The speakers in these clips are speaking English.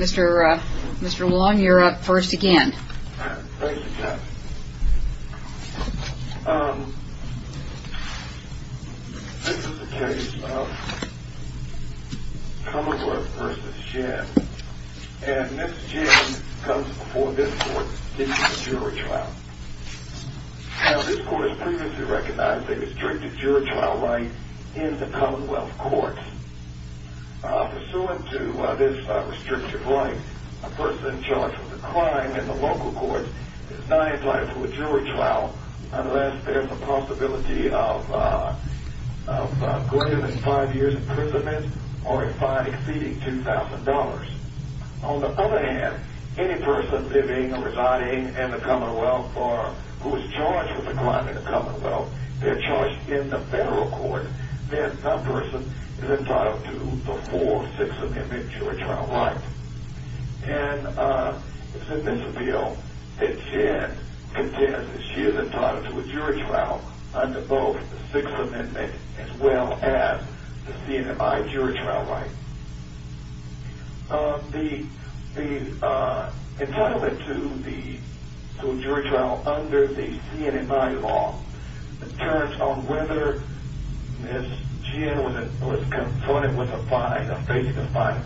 Mr. Wong, you're up first again. This is the case of Commonwealth v. Jen, and Ms. Jen comes before this court seeking a jury trial. Now, this court has previously recognized a restricted jury trial right in the Commonwealth courts. Pursuant to this restricted right, a person charged with a crime in the local courts is not entitled to a jury trial unless there's a possibility of going to five years imprisonment or a fine exceeding $2,000. On the other hand, any person living or residing in the Commonwealth who is charged with a crime in the Commonwealth, they're charged in the federal court, then that person is entitled to the full Sixth Amendment jury trial right. And it's in this appeal that Jen contends that she is entitled to a jury trial under both the Sixth Amendment as well as the C&MI jury trial right. The entitlement to a jury trial under the C&MI law determines on whether Ms. Jen was confronted with a fine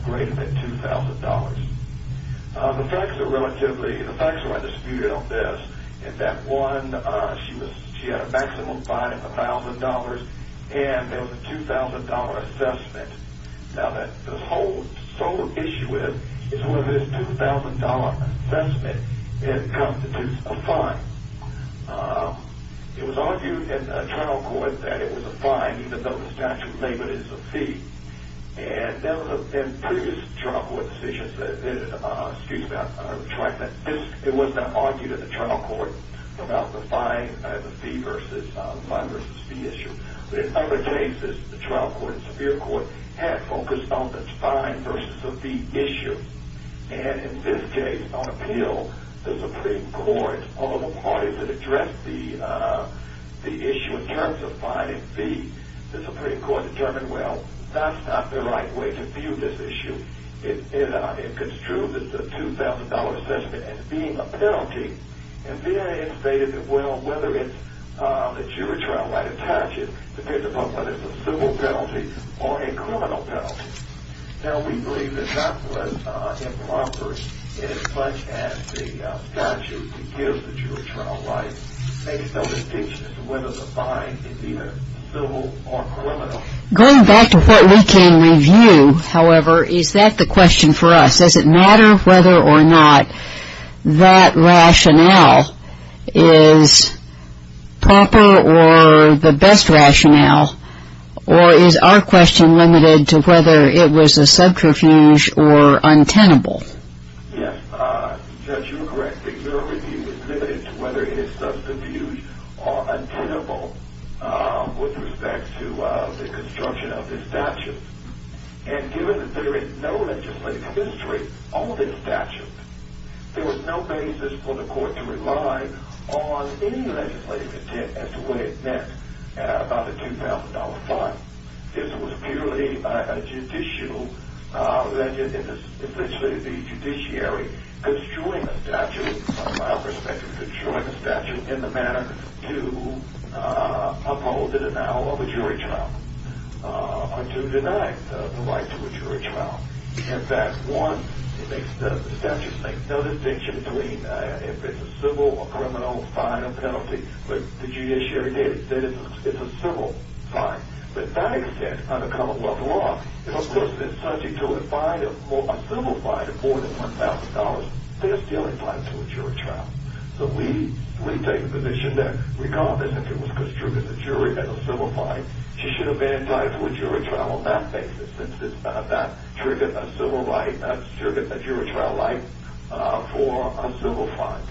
greater than $2,000. The facts are disputed on this. In that one, she had a maximum fine of $1,000 and there was a $2,000 assessment. Now, the whole issue is whether this $2,000 assessment constitutes a fine. It was argued in the trial court that it was a fine even though the statute labeled it as a fee. In previous trial court decisions, it was not argued in the trial court about the fine versus fee issue. In other cases, the trial court and the superior court had focused on the fine versus the fee issue. And in this case, on appeal, the Supreme Court, all of the parties that addressed the issue in terms of fine and fee, the Supreme Court determined, well, that's not the right way to view this issue. It construed this $2,000 assessment as being a penalty. And VA has stated that, well, whether it's a jury trial right attaches depends upon whether it's a civil penalty or a criminal penalty. Now, we believe that that was improper in as much as the statute gives the jury trial right based on the distinction as to whether the fine is either civil or criminal. Going back to what we can review, however, is that the question for us? Does it matter whether or not that rationale is proper or the best rationale, or is our question limited to whether it was a subterfuge or untenable? Yes. Judge, you are correct that your review is limited to whether it is subterfuge or untenable with respect to the construction of this statute. And given that there is no legislative history on this statute, there was no basis for the court to rely on any legislative intent as to what it meant about the $2,000 fine. This was purely a judicial, essentially the judiciary construing a statute, from our perspective, construing a statute in the manner to uphold the denial of a jury trial. Or to deny the right to a jury trial. In fact, one, the statute makes no distinction between if it's a civil or criminal fine or penalty. But the judiciary did. It's a civil fine. But to that extent, under common law, if a person is subject to a civil fine of more than $1,000, they're still entitled to a jury trial. So we take a position that regardless if it was construed in the jury as a civil fine, she should have been entitled to a jury trial on that basis, since that triggered a jury trial right for a civil fine.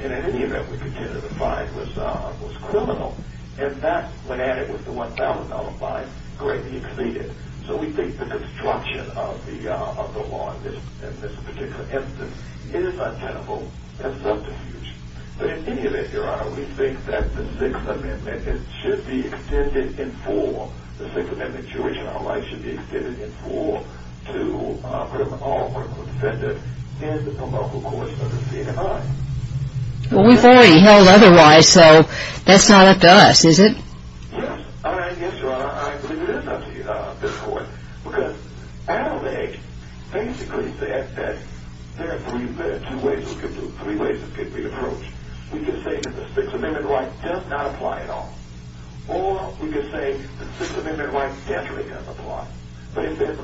And in any event, we contended the fine was criminal. In fact, when added with the $1,000 fine, greatly exceeded. So we think the construction of the law in this particular instance is untenable and subterfuge. But in any event, Your Honor, we think that the Sixth Amendment should be extended in full. The Sixth Amendment jury trial right should be extended in full to put an all criminal defendant in the promulgation of the civil fine. Well, we've already held otherwise, so that's not up to us, is it? Yes. Yes, Your Honor, I believe it is up to this Court. Because Adam A. basically said that there are three ways it could be approached. We could say that the Sixth Amendment right does not apply at all. Or we could say the Sixth Amendment right naturally does apply. But in fact,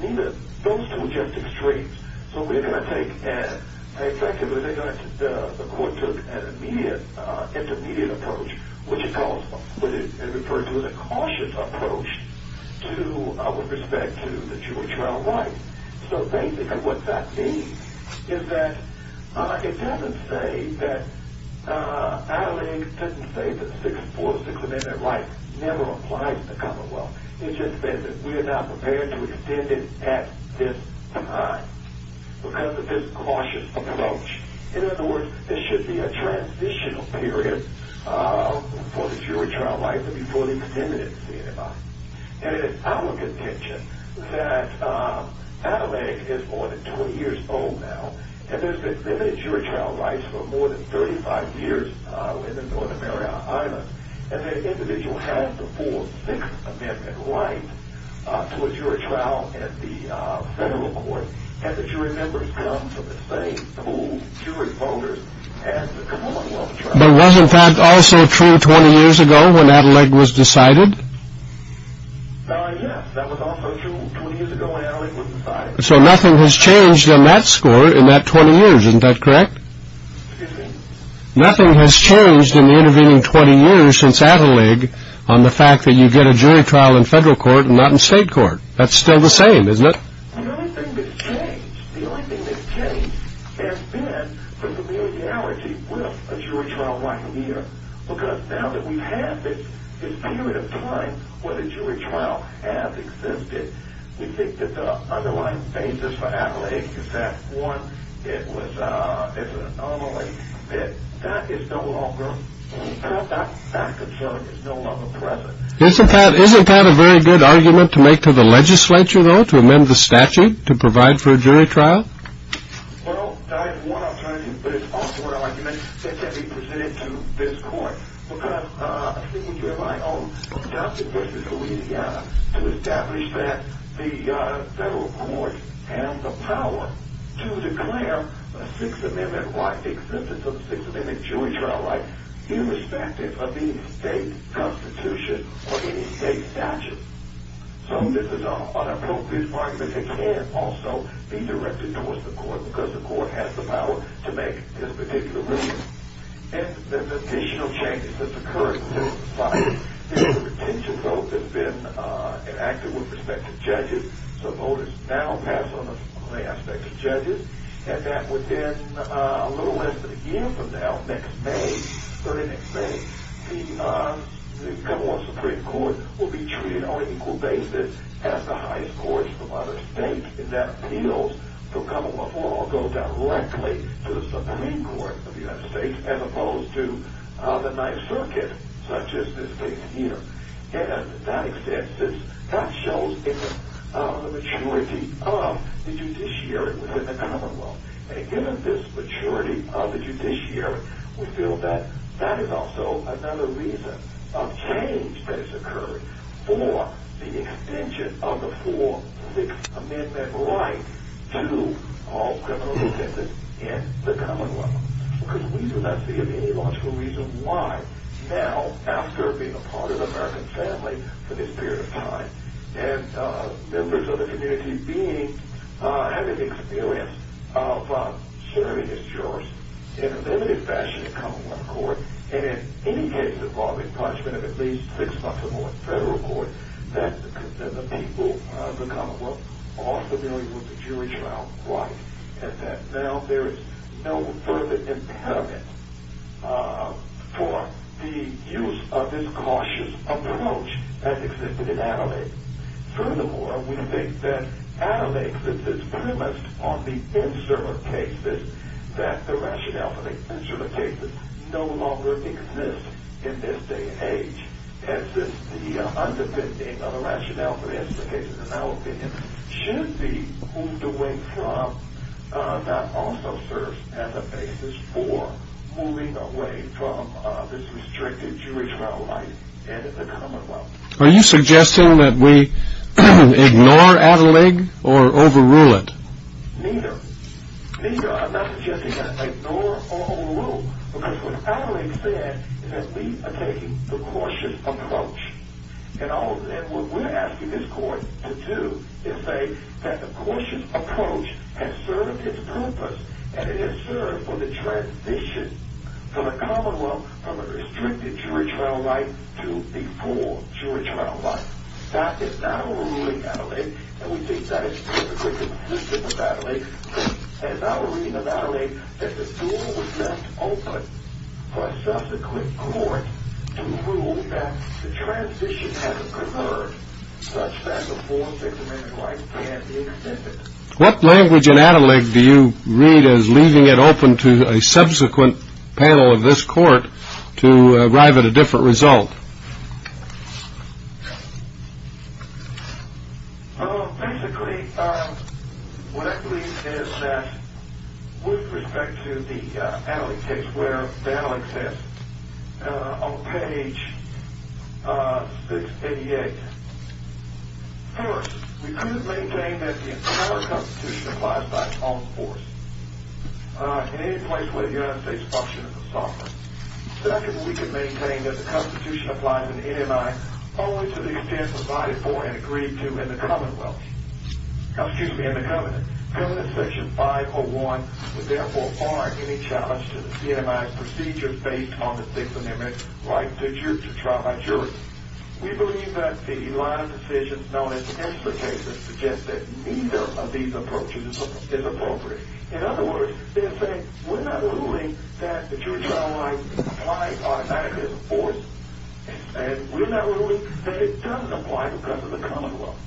neither of those two are just extremes. So we are going to take an effective, and I think the Court took an intermediate approach, which it referred to as a cautious approach with respect to the jury trial right. So basically what that means is that it doesn't say that Adam A. didn't say that the Sixth Amendment right never applies in the Commonwealth. It just says that we are not prepared to extend it at this time because of this cautious approach. And, in other words, this should be a transitional period for the jury trial right before they condemn it to anybody. And it is our contention that Adam A. is more than 20 years old now, and there's been limited jury trial rights for more than 35 years within North America Island, and that an individual has the full Sixth Amendment right to a jury trial at the federal court, and that you remember him for the same pool of jury voters as the Commonwealth trial. But wasn't that also true 20 years ago when Adam A. was decided? Yes, that was also true 20 years ago when Adam A. was decided. So nothing has changed on that score in that 20 years, isn't that correct? Excuse me? Nothing has changed in the intervening 20 years since Adam A. on the fact that you get a jury trial in federal court and not in state court. That's still the same, isn't it? The only thing that's changed, the only thing that's changed has been the familiarity with a jury trial right here. Because now that we have this period of time where the jury trial has existed, we think that the underlying basis for Adam A. is that, one, it was an anomaly. That is no longer, that fact of jury is no longer present. Isn't that a very good argument to make to the legislature, though, to amend the statute to provide for a jury trial? Well, that is one alternative, but it's also an argument that can be presented to this court. Because I think you have my own doubts and questions, but we need to establish that the federal court has the power to declare a Sixth Amendment right, irrespective of the state constitution or any state statute. So this is an appropriate argument that can also be directed towards the court, because the court has the power to make this particular ruling. And there's additional changes that's occurred since the fight. The retention vote has been enacted with respect to judges. So voters now pass on the aspect of judges. And that within a little less than a year from now, next May, early next May, the Commonwealth Supreme Court will be treated on an equal basis as the highest courts from other states, and that appeals to the Commonwealth will all go directly to the Supreme Court of the United States, as opposed to the Ninth Circuit, such as this case here. And to that extent, that shows the maturity of the judiciary within the Commonwealth. And given this maturity of the judiciary, we feel that that is also another reason of change that has occurred for the extension of the full Sixth Amendment right to all criminal defendants in the Commonwealth. Because we do not see any logical reason why, now, after being a part of the American family for this period of time, and members of the community having experience of serving as jurors in a limited fashion in Commonwealth court, and in any case involving punishment of at least six months or more in federal court, that the people of the Commonwealth are familiar with the jury trial right. And that now there is no further impediment for the use of this cautious approach that existed in Adelaide. Furthermore, we think that Adelaide, since it's premised on the insert of cases, that the rationale for the insert of cases no longer exists in this day and age. And since the underpinning of the rationale for the insert of cases, in our opinion, should be moved away from that also serves as a basis for moving away from this restricted jury trial right in the Commonwealth. Are you suggesting that we ignore Adelaide or overrule it? Neither. Neither. I'm not suggesting that ignore or overrule. Because what Adelaide said is that we are taking the cautious approach. And what we're asking this court to do is say that the cautious approach has served its purpose, and it has served for the transition for the Commonwealth from a restricted jury trial right to a full jury trial right. That is not overruling Adelaide, and we think that is a great consistent with Adelaide. And now we're reading in Adelaide that the door was left open for a subsequent court to rule that the transition hasn't occurred, such that the full six-amendment right can't be extended. What language in Adelaide do you read as leaving it open to a subsequent panel of this court to arrive at a different result? Basically, what I believe is that with respect to the Adelaide case where Adelaide says on page 688, first, we couldn't maintain that the entire Constitution applies by its own force in any place where the United States functioned as a sovereign. Second, we could maintain that the Constitution applies in NMI only to the extent provided for and agreed to in the Commonwealth. Excuse me, in the Covenant. Covenant section 501 would therefore bar any challenge to the NMI's procedure based on the six-amendment right to trial by jury. We believe that the line of decisions known as the Ensler case suggests that neither of these approaches is appropriate. In other words, they're saying we're not ruling that the jury trial line applies automatically by force, and we're not ruling that it doesn't apply because of the Commonwealth.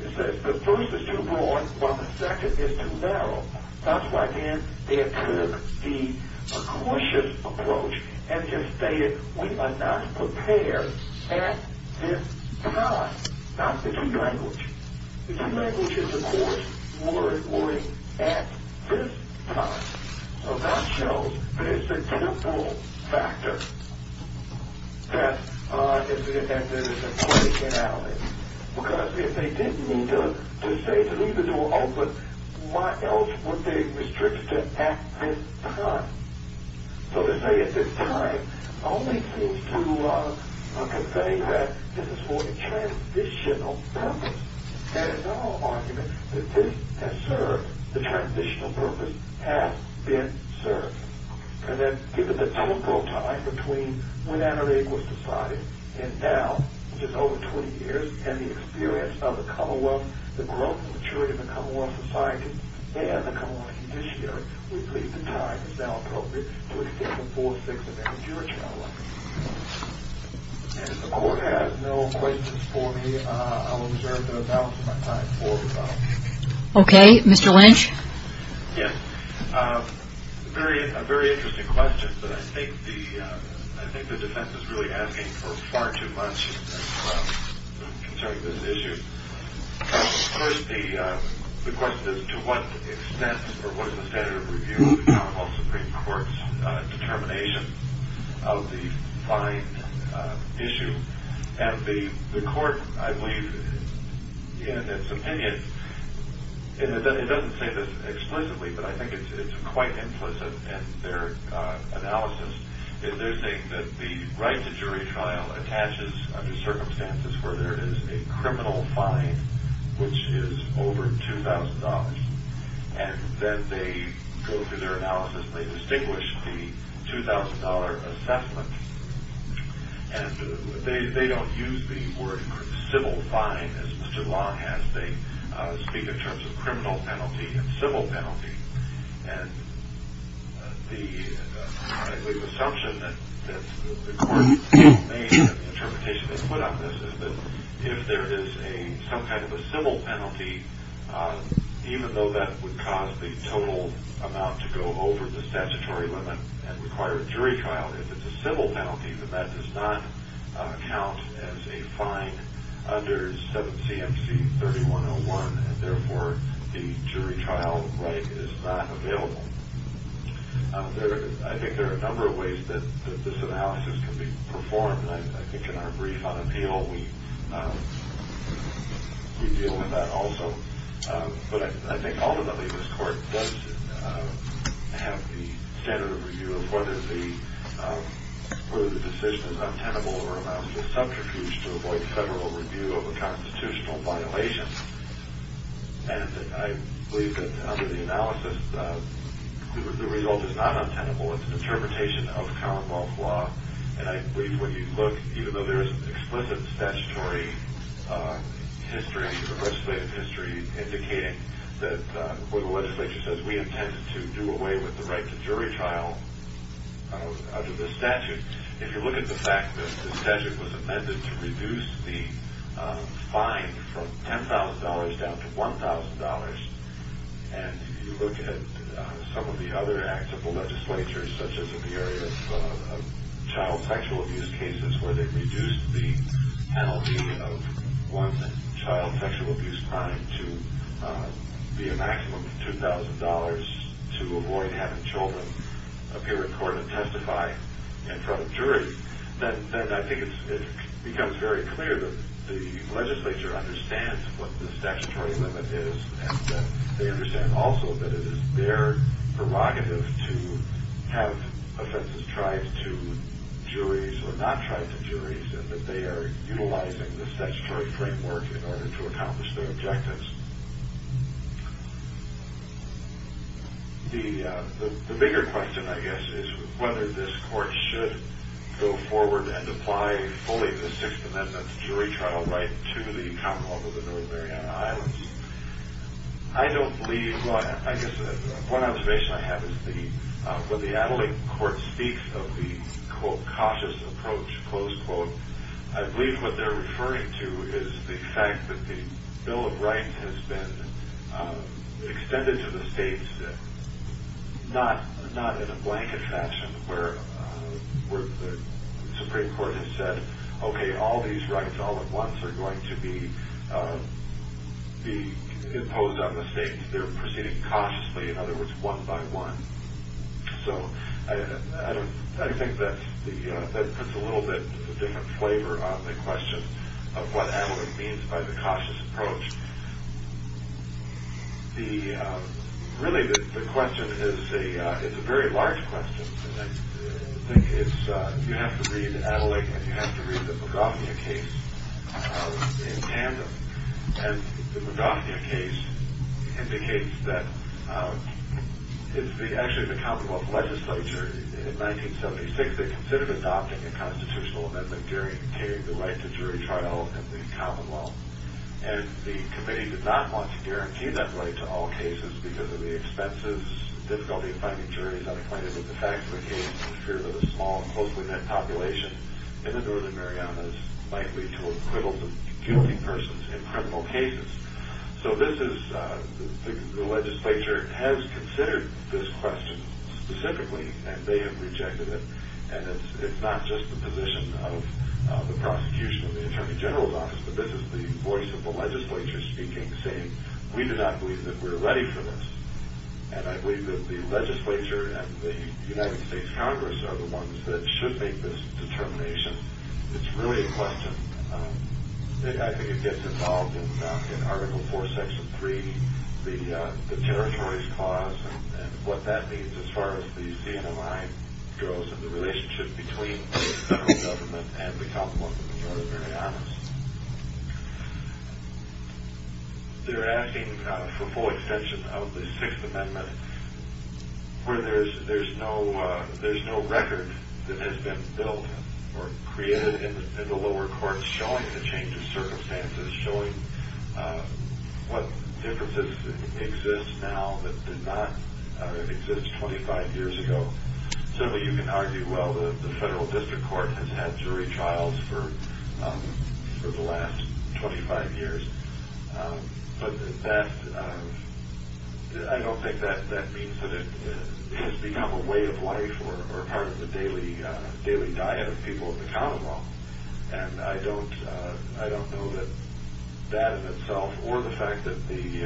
It says the first is too broad while the second is too narrow. That's why, again, they took the cautious approach and just stated we are not prepared at this time. Now, the two languages. The two languages, of course, were at this time. So that shows that it's a dual factor that there is a play in Adelaide. Because if they didn't need to say to leave the door open, why else would they restrict it to at this time? So to say at this time only seems to convey that this is for a transitional purpose. There is no argument that this has served the transitional purpose, has been served. And then given the temporal time between when Adelaide was decided and now, which is over 20 years, and the experience of the Commonwealth, the growth and maturity of the Commonwealth society, and the Commonwealth judiciary, we believe the time is now appropriate to extend the full six-month jury trial line. And if the Court has no questions for me, I will reserve the balance of my time for the trial. Okay. Mr. Lynch? Yes. A very interesting question, but I think the defense is really asking for far too much concerning this issue. First, the question is to what extent or what is the standard of review of the Commonwealth Supreme Court's determination of the fine issue? And the Court, I believe, in its opinion, and it doesn't say this explicitly, but I think it's quite implicit in their analysis, is they're saying that the right to jury trial attaches under circumstances where there is a criminal fine, which is over $2,000, and that they go through their analysis and they distinguish the $2,000 assessment. And they don't use the word civil fine, as Mr. Long has. They speak in terms of criminal penalty and civil penalty. And the, I believe, assumption that the Court made in the interpretation they put on this is that if there is some kind of a civil penalty, even though that would cause the total amount to go over the statutory limit and require a jury trial, if it's a civil penalty, then that does not count as a fine under 7 C.M.C. 3101, and therefore the jury trial right is not available. I think there are a number of ways that this analysis can be performed, and I think in our brief on appeal we deal with that also. But I think ultimately this Court does have the standard of review of whether the decision is untenable or allows the subterfuge to avoid federal review of a constitutional violation. And I believe that under the analysis, the result is not untenable. It's an interpretation of Commonwealth law. And I believe when you look, even though there is explicit statutory history, legislative history, indicating that what the legislature says we intended to do away with the right to jury trial under the statute, if you look at the fact that the statute was amended to reduce the fine from $10,000 down to $1,000, and if you look at some of the other acts of the legislature, such as in the area of child sexual abuse cases, where they reduced the penalty of one's child sexual abuse crime to be a maximum of $2,000 to avoid having children appear in court and testify in front of a jury, then I think it becomes very clear that the legislature understands what the statutory limit is and that they understand also that it is their prerogative to have offenses tried to juries or not tried to juries and that they are utilizing the statutory framework in order to accomplish their objectives. The bigger question, I guess, is whether this Court should go forward and apply fully the Sixth Amendment jury trial right to the Commonwealth of the North Mariana Islands. I don't believe, well, I guess one observation I have is when the Adelaide court speaks of the, quote, cautious approach, close quote, I believe what they're referring to is the fact that the Bill of Rights has been extended to the states, not in a blanket fashion where the Supreme Court has said, okay, all these rights all at once are going to be imposed on the states. They're proceeding cautiously, in other words, one by one. So, I think that's a little bit of a different flavor on the question of what Adelaide means by the cautious approach. The, really the question is a, it's a very large question. And I think it's, you have to read Adelaide and you have to read the MacGuffin case in tandem. And the MacGuffin case indicates that it's the, actually the Commonwealth Legislature in 1976 that considered adopting a constitutional amendment during the right to jury trial in the Commonwealth. And the committee did not want to guarantee that right to all cases because of the expenses, difficulty in finding juries, unacquainted with the facts of the case, and fear that a small and closely knit population in the Northern Mariana is likely to acquittal the guilty persons in criminal cases. So, this is, the legislature has considered this question specifically and they have rejected it. And it's not just the position of the prosecution of the Attorney General's Office, but this is the voice of the legislature speaking, saying, we do not believe that we're ready for this. And I believe that the legislature and the United States Congress are the ones that should make this determination. It's really a question. I think it gets involved in Article 4, Section 3, the territories clause, and what that means as far as the CNMI goes and the relationship between the federal government and the Commonwealth of Northern Mariana. They're asking for full extension of the Sixth Amendment where there's no record that has been built or created in the lower courts showing the change of circumstances, showing what differences exist now that did not exist 25 years ago. So, you can argue, well, the federal district court has had jury trials for the last 25 years, but I don't think that means that it has become a way of life or part of the daily diet of people in the Commonwealth. And I don't know that that in itself or the fact that the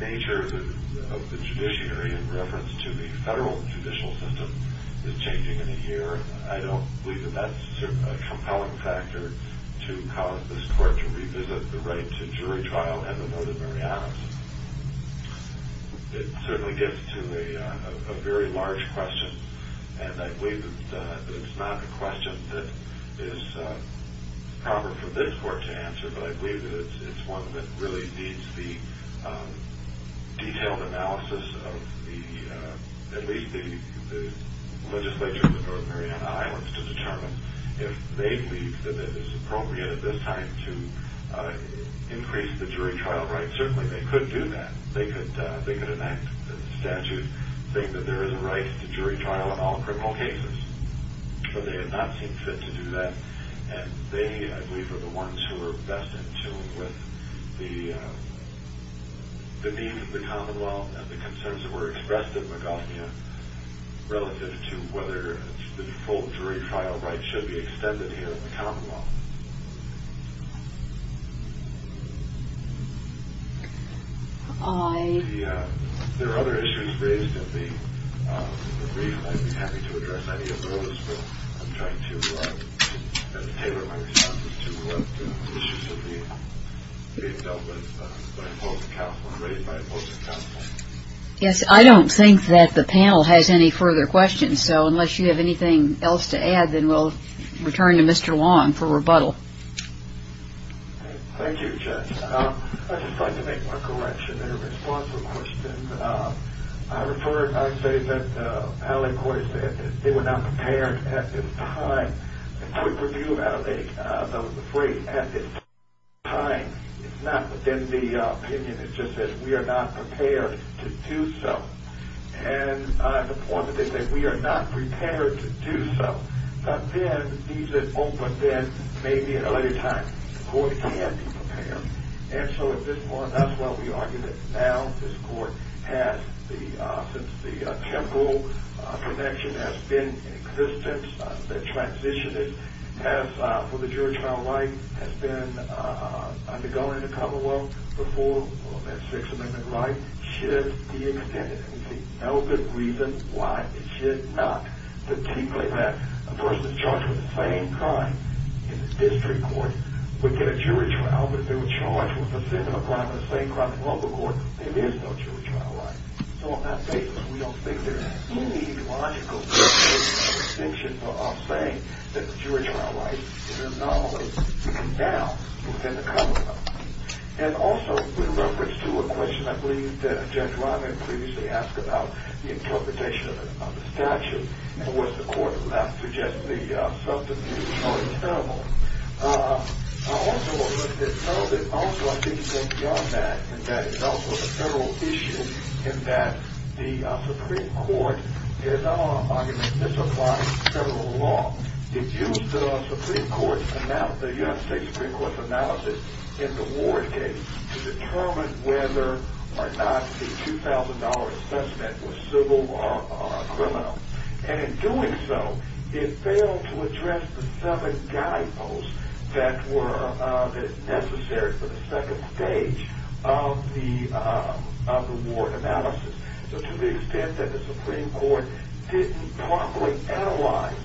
nature of the judiciary in reference to the federal judicial system is changing in a year. I don't believe that that's a compelling factor to cause this court to revisit the right to jury trial in the Northern Marianas. It certainly gets to a very large question, and I believe that it's not a question that is proper for this court to answer, but I believe that it's one that really needs the detailed analysis of at least the legislature of the Northern Mariana Islands to determine if they believe that it is appropriate at this time to increase the jury trial right. And certainly they could do that. They could enact a statute saying that there is a right to jury trial in all criminal cases, but they have not seemed fit to do that. And they, I believe, are the ones who are best in tune with the needs of the Commonwealth and the concerns that were expressed in Magathnia relative to whether the full jury trial right should be extended here in the Commonwealth. There are other issues raised in the brief. I'd be happy to address any of those. But I'm trying to tailor my responses to the issues that are being dealt with by both counsel and raised by both counsel. Yes, I don't think that the panel has any further questions. So unless you have anything else to add, then we'll return to Mr. Wong for rebuttal. Thank you, Judge. I'd just like to make one correction in response to a question. I say that the appellate court has said that they were not prepared at this time. A quick review, I was afraid, at this time. It's not within the opinion. It's just that we are not prepared to do so. And on the point that they said we are not prepared to do so, but then maybe at a later time the court can be prepared. And so at this point, that's why we argue that now this court has, since the temporal connection has been in existence, the transition for the jury trial right has been undergone in the Commonwealth before that Sixth Amendment right should be extended. And we see no good reason why it should not. A person charged with the same crime in the district court would get a jury trial, but if they were charged with the same crime in the local court, there is no jury trial right. So on that basis, we don't think there's any logical justification or distinction for our saying that the jury trial right is an anomaly that we can now put in the Commonwealth. And also, in reference to a question I believe that Judge Ryman previously asked about the interpretation of the statute, and was the court left to just the subterfuge or the terminal, I also would like to say that also I think it goes beyond that, and that is also a federal issue in that the Supreme Court is not on an argument that this applies to federal law. It used the Supreme Court, the United States Supreme Court's analysis in the Ward case to determine whether or not the $2,000 assessment was civil or criminal. And in doing so, it failed to address the seven guideposts that were necessary for the second stage of the Ward analysis. So to the extent that the Supreme Court didn't properly analyze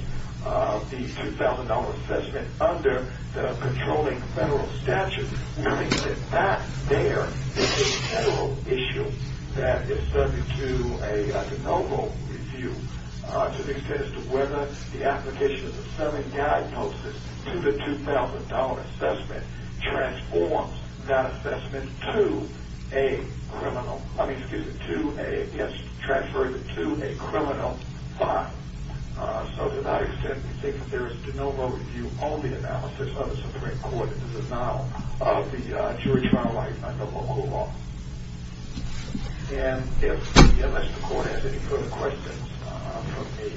the $2,000 assessment under the controlling federal statute, we believe that that there is a federal issue that is subject to a de novo review to the extent as to whether the application of the seven guideposts to the $2,000 assessment transforms that assessment to a criminal, I mean, excuse me, to a, yes, transferred to a criminal bond. So to that extent, we think that there is de novo review only analysis of the Supreme Court that is a model of the jury trial like under local law. And unless the court has any further questions from me,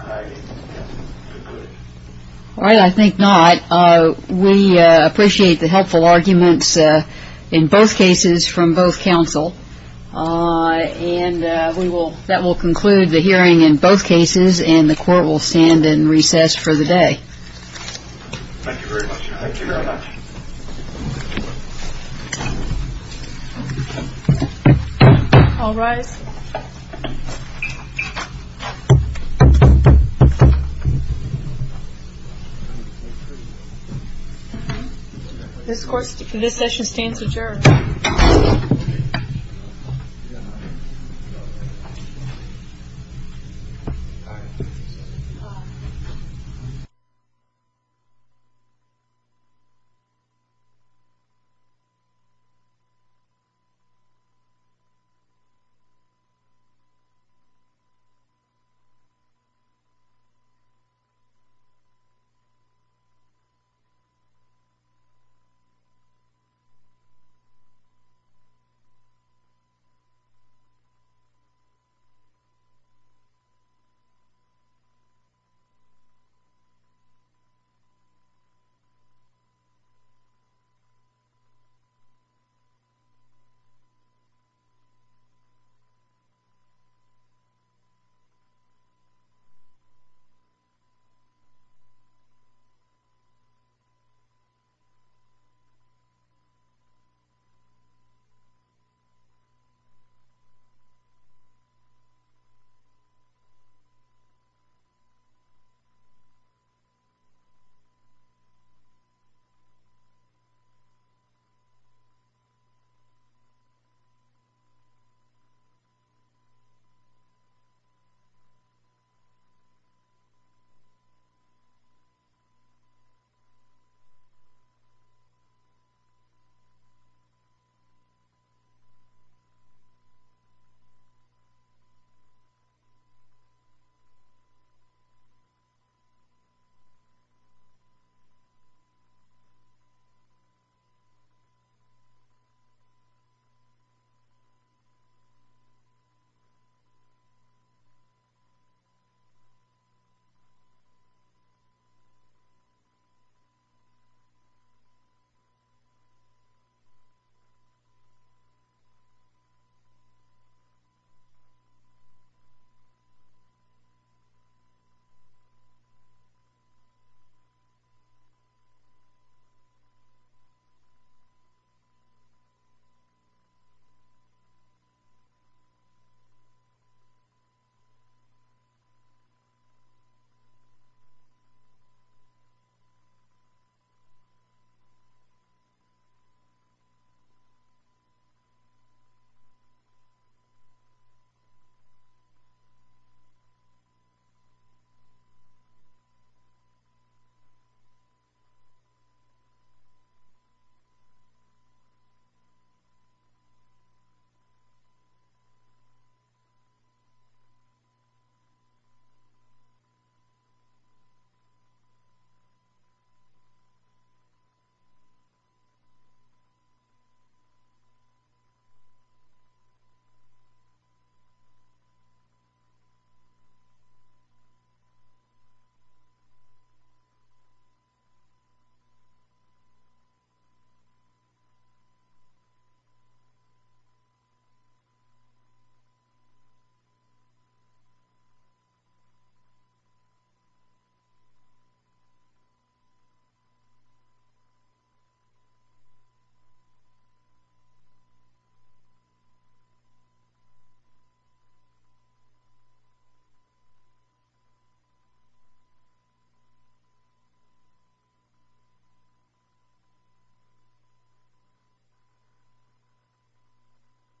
I think we're good. All right, I think not. We appreciate the helpful arguments in both cases from both counsel. And that will conclude the hearing in both cases, and the court will stand in recess for the day. Thank you very much. Thank you very much. Thank you. All rise. This session stands adjourned. This session stands adjourned. This session stands adjourned. This session stands adjourned. This session stands adjourned. This session stands adjourned. This session stands adjourned. This session stands adjourned.